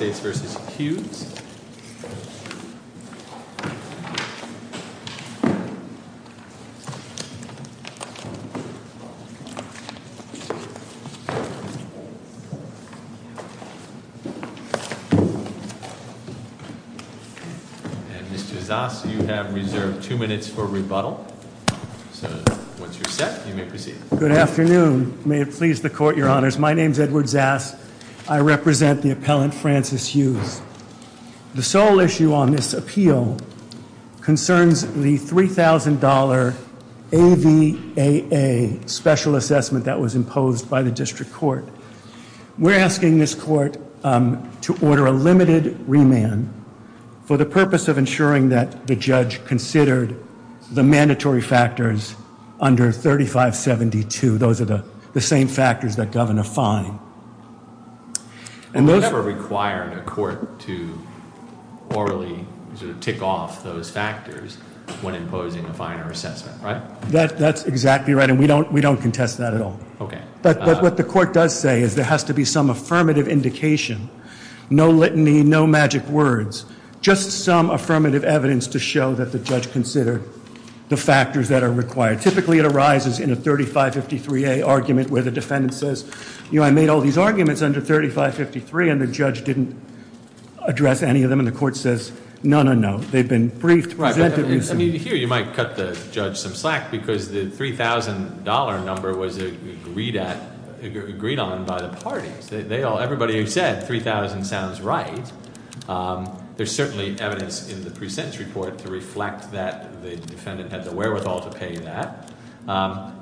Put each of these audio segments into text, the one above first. And Mr. Zass, you have reserved two minutes for rebuttal, so once you're set you may proceed. Good afternoon, may it please the court, your honors. My name's Edward Zass, I represent the appellant Francis Hughes. The sole issue on this appeal concerns the $3,000 AVAA special assessment that was imposed by the district court. We're asking this court to order a limited remand for the purpose of ensuring that the judge considered the mandatory factors under 3572. Those are the same factors that govern a fine. And those- We're never required a court to orally sort of tick off those factors when imposing a finer assessment, right? That's exactly right, and we don't contest that at all. Okay. But what the court does say is there has to be some affirmative indication, no litany, no magic words, just some affirmative evidence to show that the judge considered the factors that are required. Typically it arises in a 3553A argument where the defendant says, I made all these arguments under 3553 and the judge didn't address any of them, and the court says, no, no, no. They've been briefed. Right, I mean, here you might cut the judge some slack because the $3,000 number was agreed on by the parties. Everybody who said 3,000 sounds right, there's certainly evidence in the pre-sentence report to reflect that. The defendant had the wherewithal to pay that.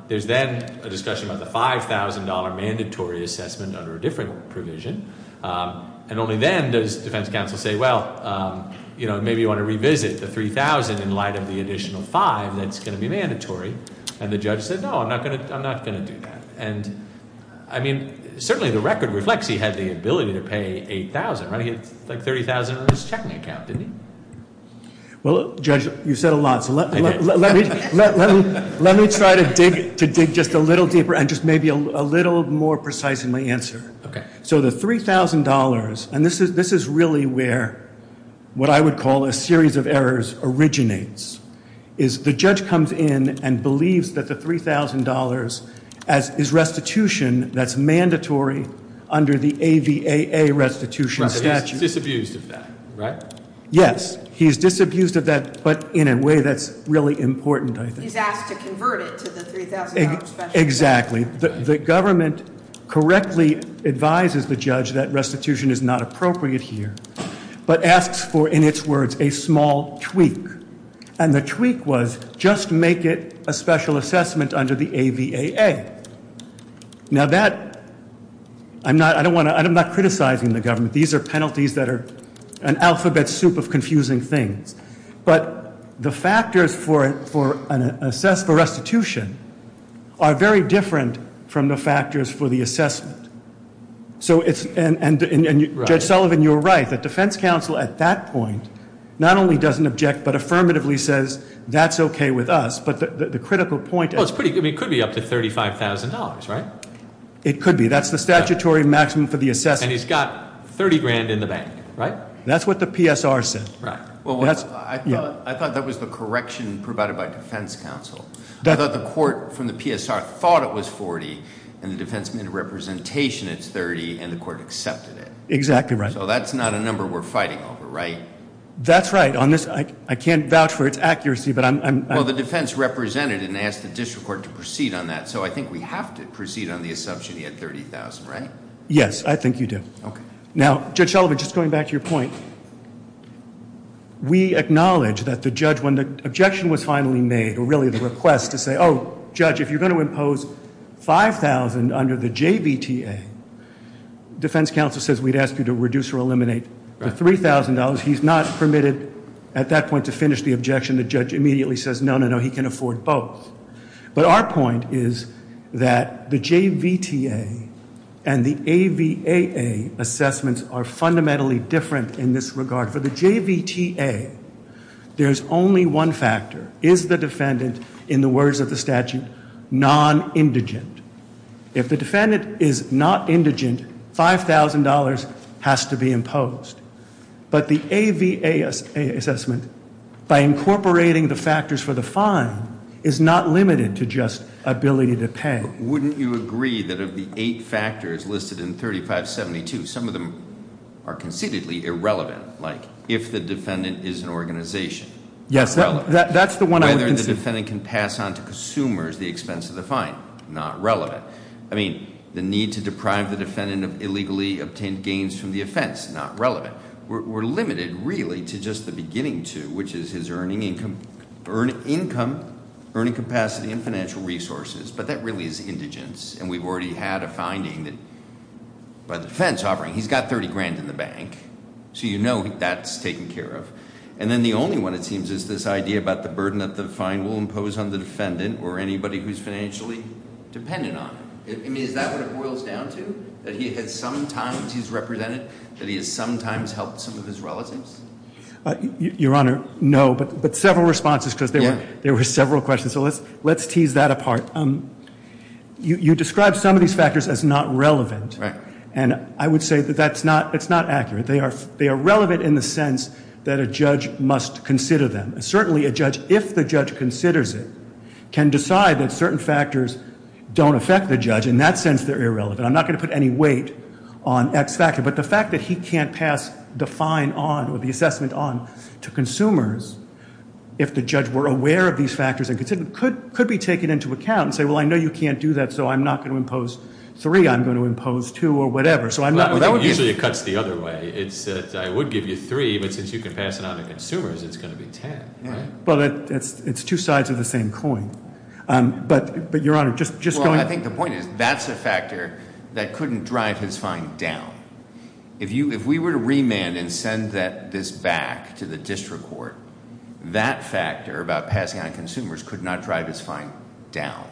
There's then a discussion about the $5,000 mandatory assessment under a different provision. And only then does defense counsel say, well, maybe you want to revisit the 3,000 in light of the additional five that's going to be mandatory. And the judge said, no, I'm not going to do that. And I mean, certainly the record reflects he had the ability to pay 8,000, right? He had like 30,000 in his checking account, didn't he? Well, Judge, you've said a lot, so let me try to dig just a little deeper and just maybe a little more precise in my answer. Okay. So the $3,000, and this is really where what I would call a series of errors originates, is the judge comes in and believes that the $3,000 is restitution that's mandatory under the AVAA restitution statute. Disabused of that, right? Yes, he's disabused of that, but in a way that's really important, I think. He's asked to convert it to the $3,000 special assessment. Exactly. The government correctly advises the judge that restitution is not appropriate here. But asks for, in its words, a small tweak. And the tweak was, just make it a special assessment under the AVAA. Now that, I'm not criticizing the government. These are penalties that are an alphabet soup of confusing things. But the factors for restitution are very different from the factors for the assessment. So it's, and Judge Sullivan, you're right. The defense counsel at that point, not only doesn't object, but affirmatively says, that's okay with us. But the critical point- Well, it could be up to $35,000, right? It could be. That's the statutory maximum for the assessment. And he's got 30 grand in the bank, right? That's what the PSR said. Well, I thought that was the correction provided by defense counsel. I thought the court from the PSR thought it was 40, and the defense made a representation it's 30, and the court accepted it. Exactly right. So that's not a number we're fighting over, right? That's right. On this, I can't vouch for its accuracy, but I'm- Well, the defense represented and asked the district court to proceed on that. So I think we have to proceed on the assumption he had 30,000, right? Yes, I think you do. Now, Judge Sullivan, just going back to your point, we acknowledge that the judge, when the objection was finally made, or really the request to say, oh, judge, if you're going to impose 5,000 under the JVTA, defense counsel says we'd ask you to reduce or eliminate the $3,000. He's not permitted at that point to finish the objection. The judge immediately says, no, no, no, he can afford both. But our point is that the JVTA and the AVAA assessments are fundamentally different in this regard. For the JVTA, there's only one factor. Is the defendant, in the words of the statute, non-indigent? If the defendant is not indigent, $5,000 has to be imposed. But the AVA assessment, by incorporating the factors for the fine, is not limited to just ability to pay. Wouldn't you agree that of the eight factors listed in 3572, some of them are concededly irrelevant, like if the defendant is an organization. Yes, that's the one I would concede. Whether the defendant can pass on to consumers the expense of the fine, not relevant. I mean, the need to deprive the defendant of illegally obtained gains from the offense, not relevant. We're limited, really, to just the beginning two, which is his earning income, earning capacity, and financial resources. But that really is indigence, and we've already had a finding that by the defense offering, he's got 30 grand in the bank. So you know that's taken care of. And then the only one, it seems, is this idea about the burden that the fine will impose on the defendant, or anybody who's financially dependent on him. I mean, is that what it boils down to? That he has sometimes, he's represented, that he has sometimes helped some of his relatives? Your Honor, no, but several responses, because there were several questions. So let's tease that apart. You described some of these factors as not relevant. Right. And I would say that that's not accurate. They are relevant in the sense that a judge must consider them. Certainly, a judge, if the judge considers it, can decide that certain factors don't affect the judge. In that sense, they're irrelevant. I'm not going to put any weight on X factor. But the fact that he can't pass the fine on, or the assessment on, to consumers, if the judge were aware of these factors and considered them, could be taken into account and say, well, I know you can't do that, so I'm not going to impose three. I'm going to impose two, or whatever. So I'm not, that would be- Usually, it cuts the other way. It's that I would give you three, but since you can pass it on to consumers, it's going to be ten, right? Well, it's two sides of the same coin, but Your Honor, just going- Well, I think the point is, that's a factor that couldn't drive his fine down. If we were to remand and send this back to the district court, that factor about passing on consumers could not drive his fine down.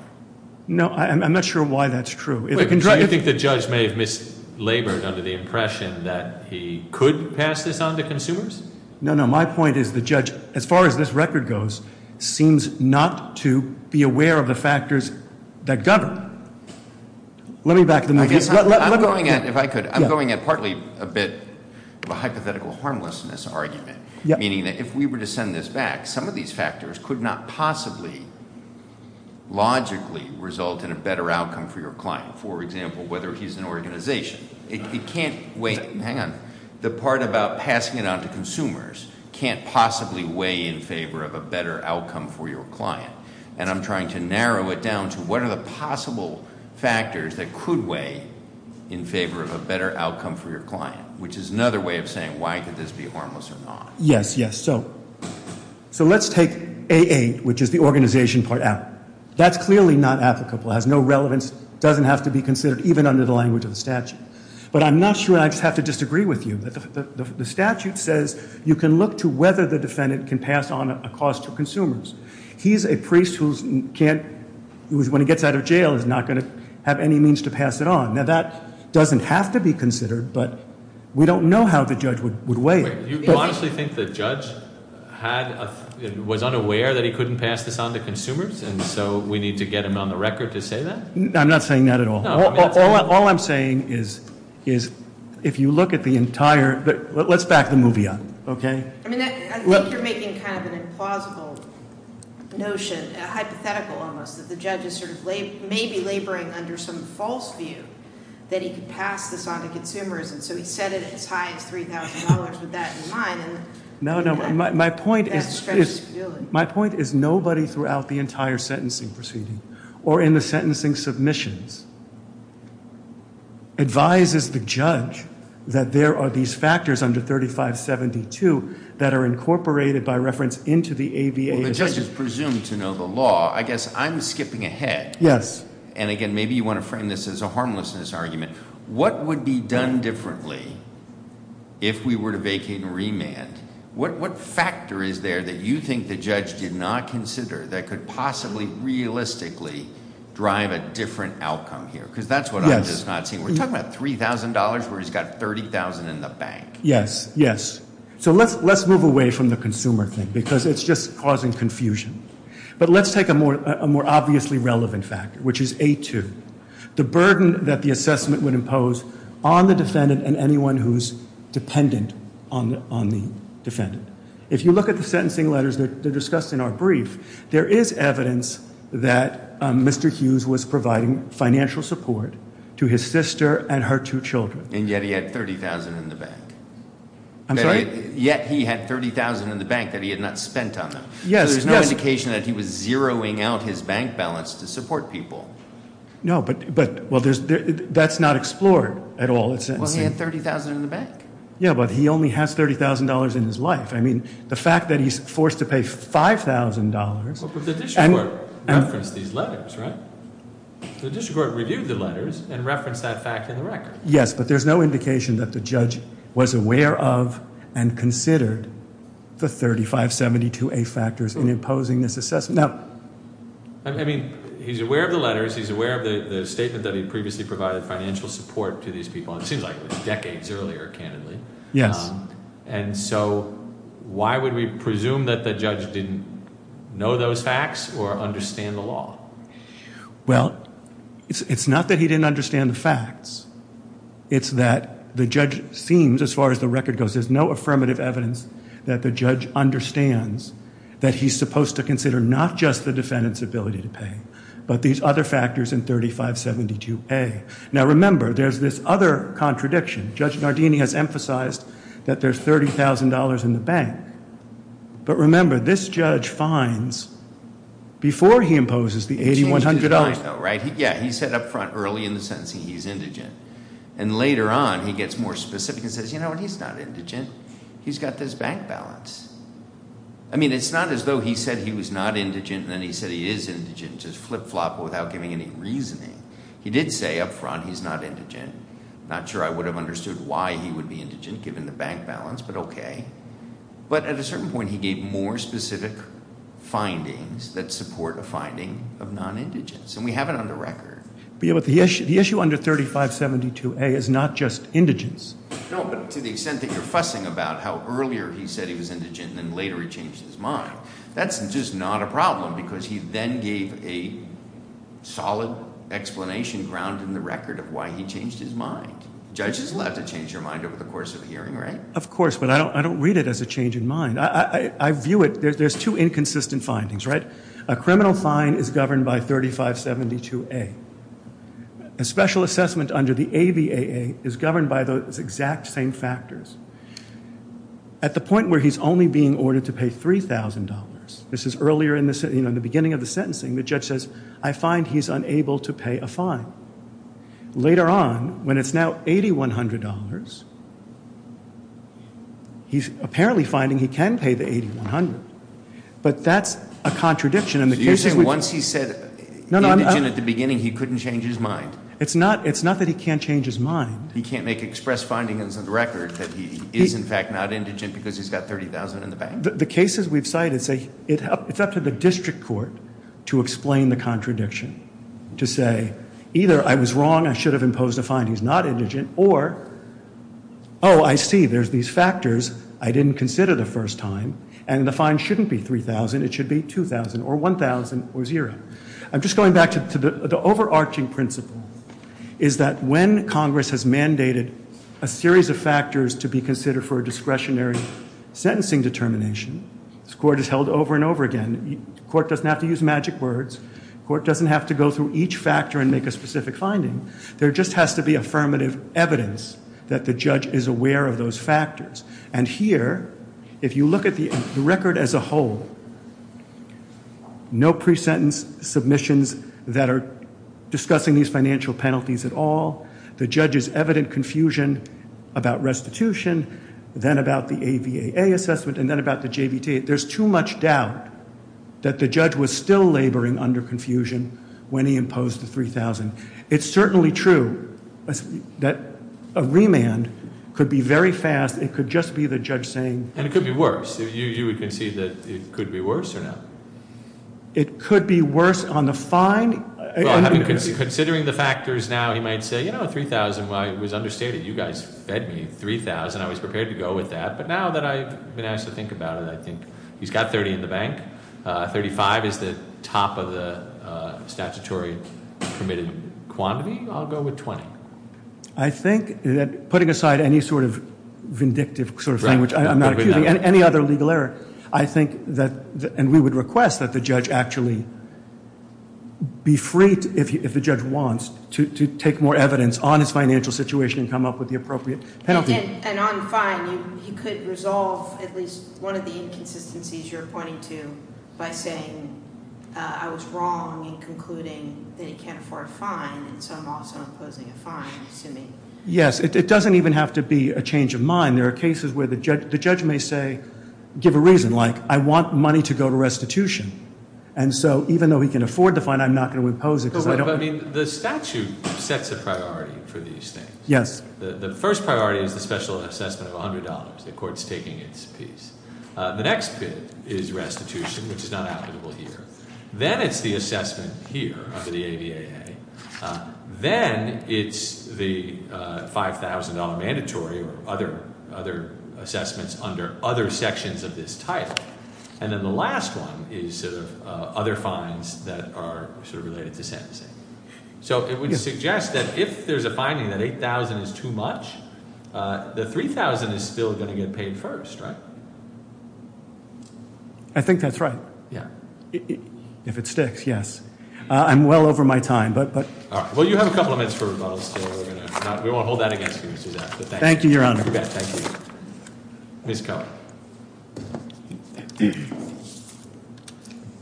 No, I'm not sure why that's true. Do you think the judge may have mislabored under the impression that he could pass this on to consumers? No, no, my point is, the judge, as far as this record goes, seems not to be aware of the factors that govern. Let me back the- I guess I'm going at, if I could, I'm going at partly a bit of a hypothetical harmlessness argument. Meaning that if we were to send this back, some of these factors could not possibly, Logically result in a better outcome for your client, for example, whether he's an organization. It can't weigh, hang on, the part about passing it on to consumers can't possibly weigh in favor of a better outcome for your client. And I'm trying to narrow it down to what are the possible factors that could weigh in favor of a better outcome for your client, which is another way of saying why could this be harmless or not? Yes, yes, so let's take AA, which is the organization part out. That's clearly not applicable, has no relevance, doesn't have to be considered, even under the language of the statute. But I'm not sure, I just have to disagree with you, that the statute says you can look to whether the defendant can pass on a cost to consumers. He's a priest who's can't, who when he gets out of jail is not going to have any means to pass it on. Now that doesn't have to be considered, but we don't know how the judge would weigh it. You honestly think the judge was unaware that he couldn't pass this on to consumers, and so we need to get him on the record to say that? I'm not saying that at all. All I'm saying is, if you look at the entire, let's back the movie up, okay? I mean, I think you're making kind of an implausible notion, a hypothetical almost, that the judge is sort of maybe laboring under some false view that he could pass this on to consumers. And so he set it as high as $3,000 with that in mind. No, no, my point is nobody throughout the entire sentencing proceeding, or in the sentencing submissions, advises the judge that there are these factors under 3572 that are incorporated by reference into the ABA- Well, the judge is presumed to know the law. I guess I'm skipping ahead. Yes. And again, maybe you want to frame this as a harmlessness argument. What would be done differently if we were to vacate and remand? What factor is there that you think the judge did not consider that could possibly realistically drive a different outcome here? because that's what I'm just not seeing. We're talking about $3,000 where he's got $30,000 in the bank. Yes, yes. So let's move away from the consumer thing, because it's just causing confusion. But let's take a more obviously relevant factor, which is A2. The burden that the assessment would impose on the defendant and anyone who's dependent on the defendant. If you look at the sentencing letters that are discussed in our brief, there is evidence that Mr. Hughes was providing financial support to his sister and her two children. And yet he had $30,000 in the bank. I'm sorry? Yet he had $30,000 in the bank that he had not spent on them. Yes, yes. There's no indication that he was zeroing out his bank balance to support people. No, but, well, that's not explored at all. Well, he had $30,000 in the bank. Yeah, but he only has $30,000 in his life. I mean, the fact that he's forced to pay $5,000. But the district court referenced these letters, right? The district court reviewed the letters and referenced that fact in the record. Yes, but there's no indication that the judge was aware of and considered the 3572A factors in imposing this assessment. Now, I mean, he's aware of the letters. He's aware of the statement that he previously provided financial support to these people. It seems like it was decades earlier, candidly. And so, why would we presume that the judge didn't know those facts or understand the law? Well, it's not that he didn't understand the facts. It's that the judge seems, as far as the record goes, there's no affirmative evidence that the judge understands that he's supposed to consider not just the defendant's ability to pay, but these other factors in 3572A. Now, remember, there's this other contradiction. Judge Nardini has emphasized that there's $30,000 in the bank. But remember, this judge finds, before he imposes the $8,100- He changed his mind, though, right? Yeah, he said up front, early in the sentencing, he's indigent. And later on, he gets more specific and says, you know what, he's not indigent. He's got this bank balance. I mean, it's not as though he said he was not indigent, and then he said he is indigent, just flip-flop without giving any reasoning. He did say up front, he's not indigent. Not sure I would have understood why he would be indigent, given the bank balance, but okay. But at a certain point, he gave more specific findings that support a finding of non-indigents, and we have it on the record. But the issue under 3572A is not just indigents. No, but to the extent that you're fussing about how earlier he said he was indigent, and then later he changed his mind. That's just not a problem, because he then gave a solid explanation, ground in the record, of why he changed his mind. Judge is allowed to change your mind over the course of a hearing, right? Of course, but I don't read it as a change in mind. I view it, there's two inconsistent findings, right? A criminal fine is governed by 3572A. A special assessment under the AVAA is governed by those exact same factors. At the point where he's only being ordered to pay $3,000, this is earlier in the beginning of the sentencing. The judge says, I find he's unable to pay a fine. Later on, when it's now $8,100, he's apparently finding he can pay the $8,100. But that's a contradiction in the case- You're saying once he said indigent at the beginning, he couldn't change his mind? It's not that he can't change his mind. He can't make express findings of the record that he is, in fact, not indigent because he's got $30,000 in the bank? The cases we've cited say, it's up to the district court to explain the contradiction. To say, either I was wrong, I should have imposed a fine, he's not indigent. Or, I see, there's these factors I didn't consider the first time. And the fine shouldn't be $3,000, it should be $2,000, or $1,000, or zero. I'm just going back to the overarching principle, is that when Congress has mandated a series of factors to be considered for a discretionary sentencing determination, this court is held over and over again. Court doesn't have to use magic words, court doesn't have to go through each factor and make a specific finding. There just has to be affirmative evidence that the judge is aware of those factors. And here, if you look at the record as a whole, no pre-sentence submissions that are discussing these financial penalties at all. The judge's evident confusion about restitution, then about the AVAA assessment, and then about the JVT. There's too much doubt that the judge was still laboring under confusion when he imposed the 3,000. It's certainly true that a remand could be very fast, it could just be the judge saying- And it could be worse. You would concede that it could be worse or not? It could be worse on the fine. Well, considering the factors now, he might say, you know, 3,000, well, I was understated. You guys fed me 3,000, I was prepared to go with that. But now that I've been asked to think about it, I think he's got 30 in the bank. 35 is the top of the statutory permitted quantity. I'll go with 20. I think that putting aside any sort of vindictive sort of thing, which I'm not accusing, any other legal error. I think that, and we would request that the judge actually be free, if the judge wants, to take more evidence on his financial situation and come up with the appropriate penalty. And on fine, he could resolve at least one of the inconsistencies you're pointing to by saying, I was wrong in concluding that he can't afford a fine, and so I'm also imposing a fine, assuming. Yes, it doesn't even have to be a change of mind. There are cases where the judge may say, give a reason, like I want money to go to restitution. And so even though he can afford the fine, I'm not going to impose it because I don't- The statute sets a priority for these things. Yes. The first priority is the special assessment of $100, the court's taking its piece. The next bit is restitution, which is not applicable here. Then it's the assessment here under the ADAA. Then it's the $5,000 mandatory or other assessments under other sections of this title. And then the last one is sort of other fines that are sort of related to sentencing. So it would suggest that if there's a finding that $8,000 is too much, the $3,000 is still going to get paid first, right? I think that's right. Yeah. If it sticks, yes. I'm well over my time, but- Well, you have a couple of minutes for rebuttals, so we won't hold that against you, but thank you. Thank you, Your Honor. You bet, thank you. Ms. Cohen.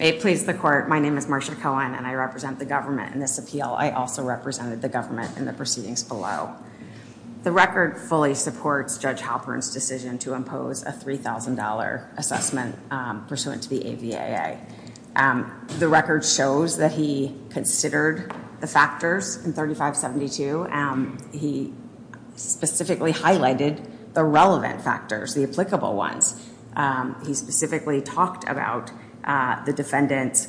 It please the court, my name is Marsha Cohen, and I represent the government in this appeal. I also represented the government in the proceedings below. The record fully supports Judge Halpern's decision to impose a $3,000 assessment pursuant to the ADAA. The record shows that he considered the factors in 3572. He specifically highlighted the relevant factors, the applicable ones. He specifically talked about the defendant's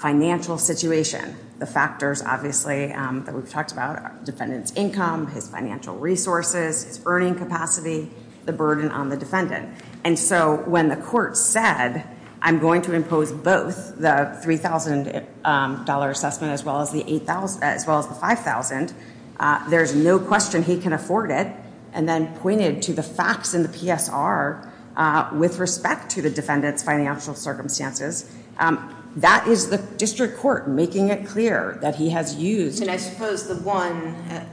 financial situation. The factors, obviously, that we've talked about are defendant's income, his financial resources, his earning capacity, the burden on the defendant. And so, when the court said, I'm going to impose both the $3,000 assessment as well as the 5,000. There's no question he can afford it. And then pointed to the facts in the PSR with respect to the defendant's financial circumstances. That is the district court making it clear that he has used- And I suppose the one that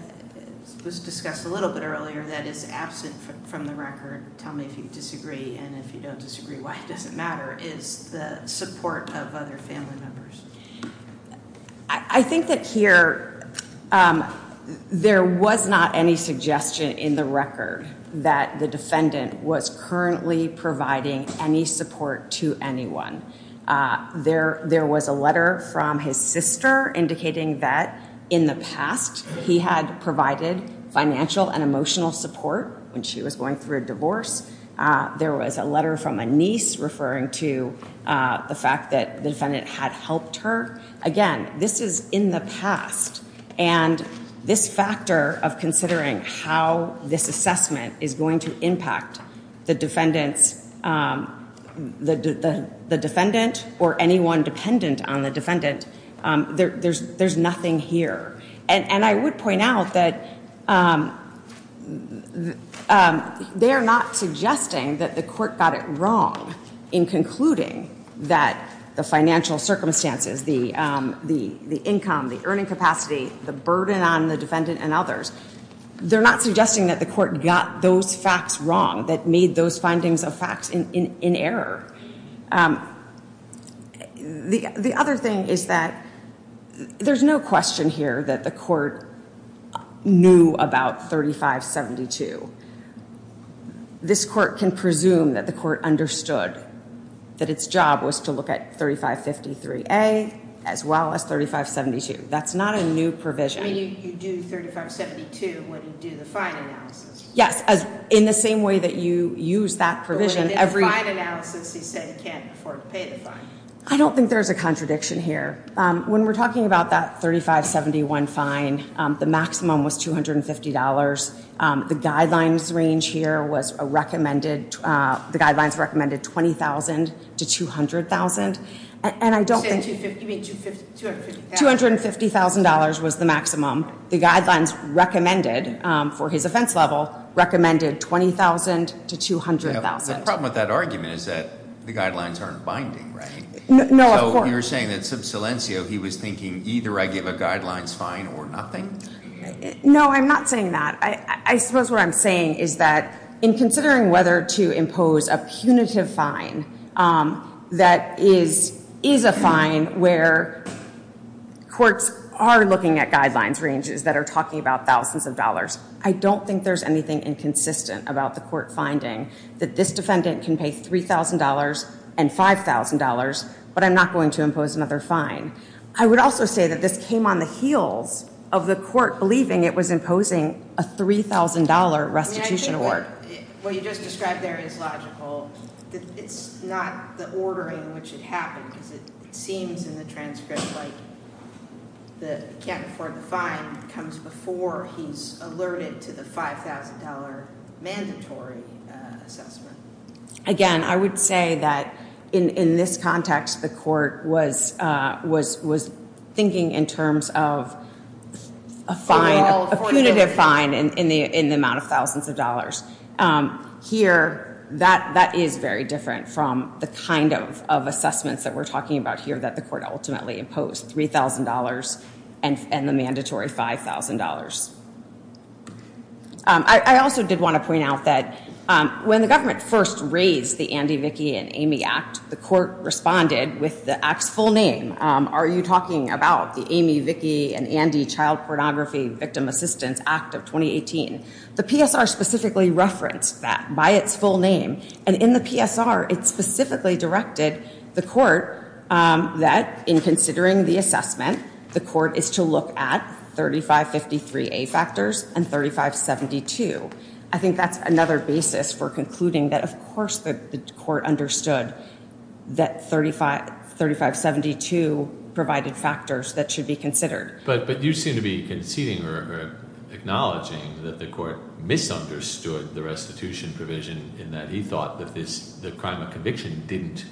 was discussed a little bit earlier that is absent from the record. Tell me if you disagree, and if you don't disagree, why it doesn't matter, is the support of other family members. I think that here, there was not any suggestion in the record that the defendant was currently providing any support to anyone. There was a letter from his sister indicating that in the past, he had provided financial and emotional support when she was going through a divorce. There was a letter from a niece referring to the fact that the defendant had helped her. Again, this is in the past, and this factor of considering how this assessment is going to impact the defendant or anyone dependent on the defendant, there's nothing here. And I would point out that they're not suggesting that the court got it wrong in concluding that the financial circumstances, the income, the earning capacity, the burden on the defendant and others. They're not suggesting that the court got those facts wrong, that made those findings of facts in error. The other thing is that there's no question here that the court knew about 3572. This court can presume that the court understood that its job was to look at 3553A as well as 3572. That's not a new provision. You do 3572 when you do the fine analysis. Yes, in the same way that you use that provision. In the fine analysis, he said he can't afford to pay the fine. I don't think there's a contradiction here. When we're talking about that 3571 fine, the maximum was $250. The guidelines range here was a recommended, the guidelines recommended 20,000 to 200,000. And I don't think- You said 250, you mean $250,000? $250,000 was the maximum. The guidelines recommended for his offense level, recommended 20,000 to 200,000. The problem with that argument is that the guidelines aren't binding, right? No, of course. You're saying that sub silencio, he was thinking either I give a guidelines fine or nothing? No, I'm not saying that. I suppose what I'm saying is that in considering whether to impose a punitive fine that is a fine where courts are looking at guidelines ranges that are talking about thousands of dollars. I don't think there's anything inconsistent about the court finding that this defendant can pay $3,000 and $5,000, but I'm not going to impose another fine. I would also say that this came on the heels of the court believing it was imposing a $3,000 restitution award. What you just described there is logical. It's not the ordering in which it happened, because it seems in the transcript like he can't afford the fine comes before he's alerted to the $5,000 mandatory assessment. Again, I would say that in this context, the court was thinking in terms of a fine- thousands of dollars. Here, that is very different from the kind of assessments that we're talking about here that the court ultimately imposed, $3,000 and the mandatory $5,000. I also did want to point out that when the government first raised the Andy, Vicki, and Amy Act, the court responded with the Act's full name. Are you talking about the Amy, Vicki, and Andy Child Pornography Victim Assistance Act of 2018? The PSR specifically referenced that by its full name. And in the PSR, it specifically directed the court that in considering the assessment, the court is to look at 3553A factors and 3572. I think that's another basis for concluding that, of course, that the court understood that 3572 provided factors that should be considered. But you seem to be conceding or acknowledging that the court misunderstood the restitution provision, in that he thought that the crime of conviction didn't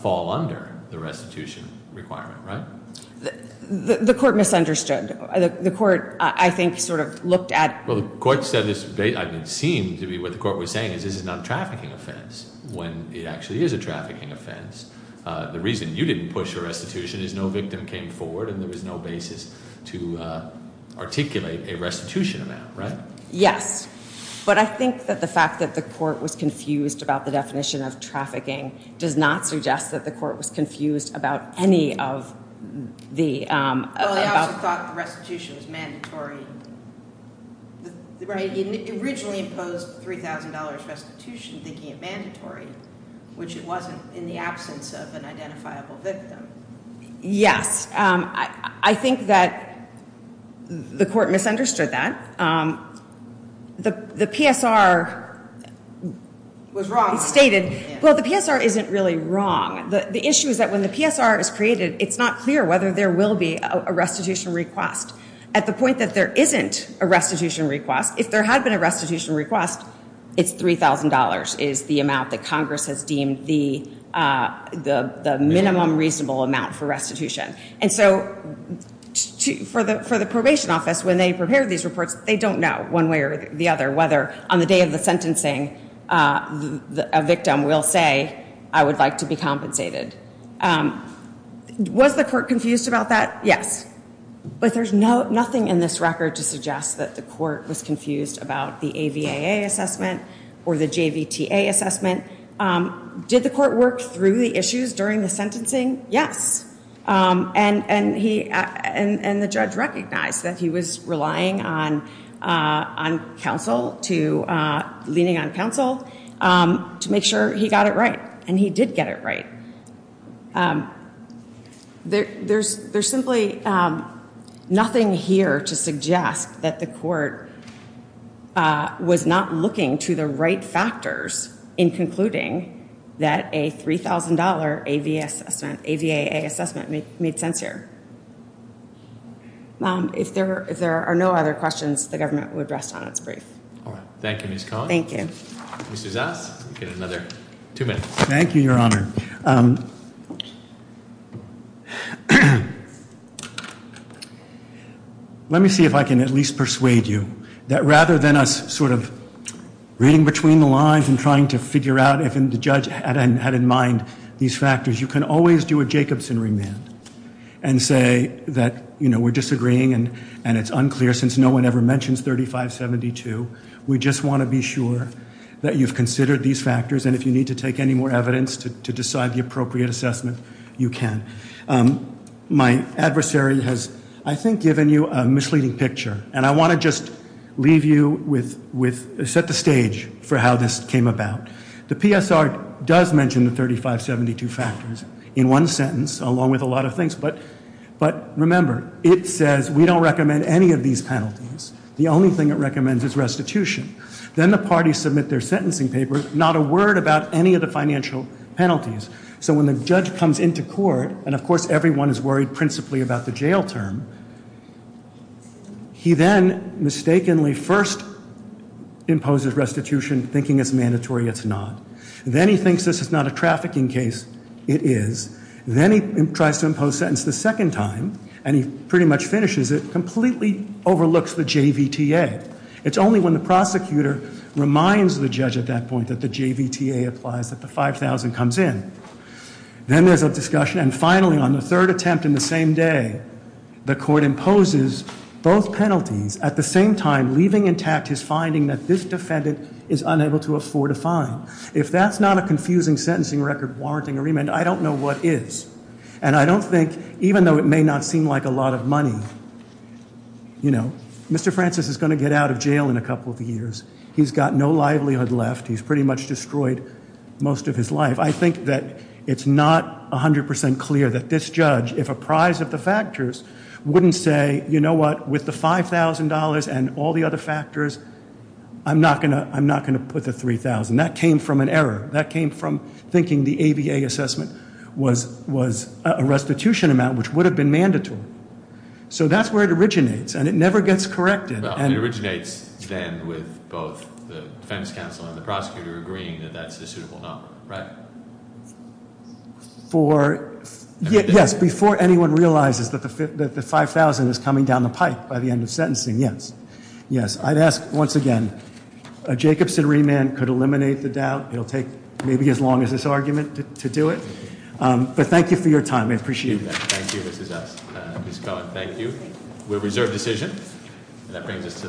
fall under the restitution requirement, right? The court misunderstood. The court, I think, sort of looked at- Well, the court said this seemed to be what the court was saying, is this is not a trafficking offense, when it actually is a trafficking offense. The reason you didn't push a restitution is no victim came forward and there was no basis to articulate a restitution amount, right? Yes. But I think that the fact that the court was confused about the definition of trafficking does not suggest that the court was confused about any of the- Well, they also thought the restitution was mandatory. Right, it originally imposed $3,000 restitution, thinking it mandatory, which it wasn't in the absence of an identifiable victim. Yes, I think that the court misunderstood that. The PSR- Was wrong. Stated, well, the PSR isn't really wrong. The issue is that when the PSR is created, it's not clear whether there will be a restitution request. At the point that there isn't a restitution request, if there had been a restitution request, it's $3,000 is the amount that Congress has deemed the minimum reasonable amount for restitution. And so, for the probation office, when they prepare these reports, they don't know one way or the other whether, on the day of the sentencing, a victim will say, I would like to be compensated. Was the court confused about that? Yes. But there's nothing in this record to suggest that the court was confused about the AVAA assessment or the JVTA assessment. Did the court work through the issues during the sentencing? Yes. And the judge recognized that he was relying on counsel to- leaning on counsel to make sure he got it right. And he did get it right. There's simply nothing here to suggest that the court was not looking to the right factors in concluding that a $3,000 AVAA assessment made sense here. If there are no other questions, the government would rest on its brief. All right. Thank you, Ms. Cohn. Thank you. Mrs. S? You get another two minutes. Thank you, Your Honor. Let me see if I can at least persuade you that rather than us sort of reading between the lines and trying to figure out if the judge had in mind these factors, you can always do a Jacobson remand and say that we're disagreeing and it's unclear since no one ever mentions 3572. We just want to be sure that you've considered these factors and if you need to take any more evidence to decide the appropriate assessment, you can. My adversary has, I think, given you a misleading picture. And I want to just leave you with- set the stage for how this came about. The PSR does mention the 3572 factors in one sentence along with a lot of things. But remember, it says we don't recommend any of these penalties. The only thing it recommends is restitution. Then the parties submit their sentencing papers, not a word about any of the financial penalties. So when the judge comes into court, and of course everyone is worried principally about the jail term, he then mistakenly first imposes restitution thinking it's mandatory, it's not. Then he thinks this is not a trafficking case, it is. Then he tries to impose sentence the second time, and he pretty much finishes it, completely overlooks the JVTA. It's only when the prosecutor reminds the judge at that point that the JVTA applies that the 5,000 comes in. Then there's a discussion, and finally on the third attempt in the same day, the court imposes both penalties. At the same time, leaving intact his finding that this defendant is unable to afford a fine. If that's not a confusing sentencing record warranting a remand, I don't know what is. And I don't think, even though it may not seem like a lot of money, Mr. Francis is going to get out of jail in a couple of years. He's got no livelihood left. He's pretty much destroyed most of his life. I think that it's not 100% clear that this judge, if apprised of the factors, wouldn't say, you know what, with the $5,000 and all the other factors, I'm not going to put the 3,000. That came from an error. That came from thinking the ABA assessment was a restitution amount which would have been mandatory. So that's where it originates, and it never gets corrected. And- It originates then with both the defense counsel and the prosecutor agreeing that that's a suitable number, right? For, yes, before anyone realizes that the 5,000 is coming down the pipe by the end of sentencing, yes. Yes, I'd ask once again, a Jacobson remand could eliminate the doubt. It'll take maybe as long as this argument to do it. But thank you for your time, I appreciate it. Thank you, Mrs. S, Ms. Cohen, thank you. We'll reserve decision, and that brings us to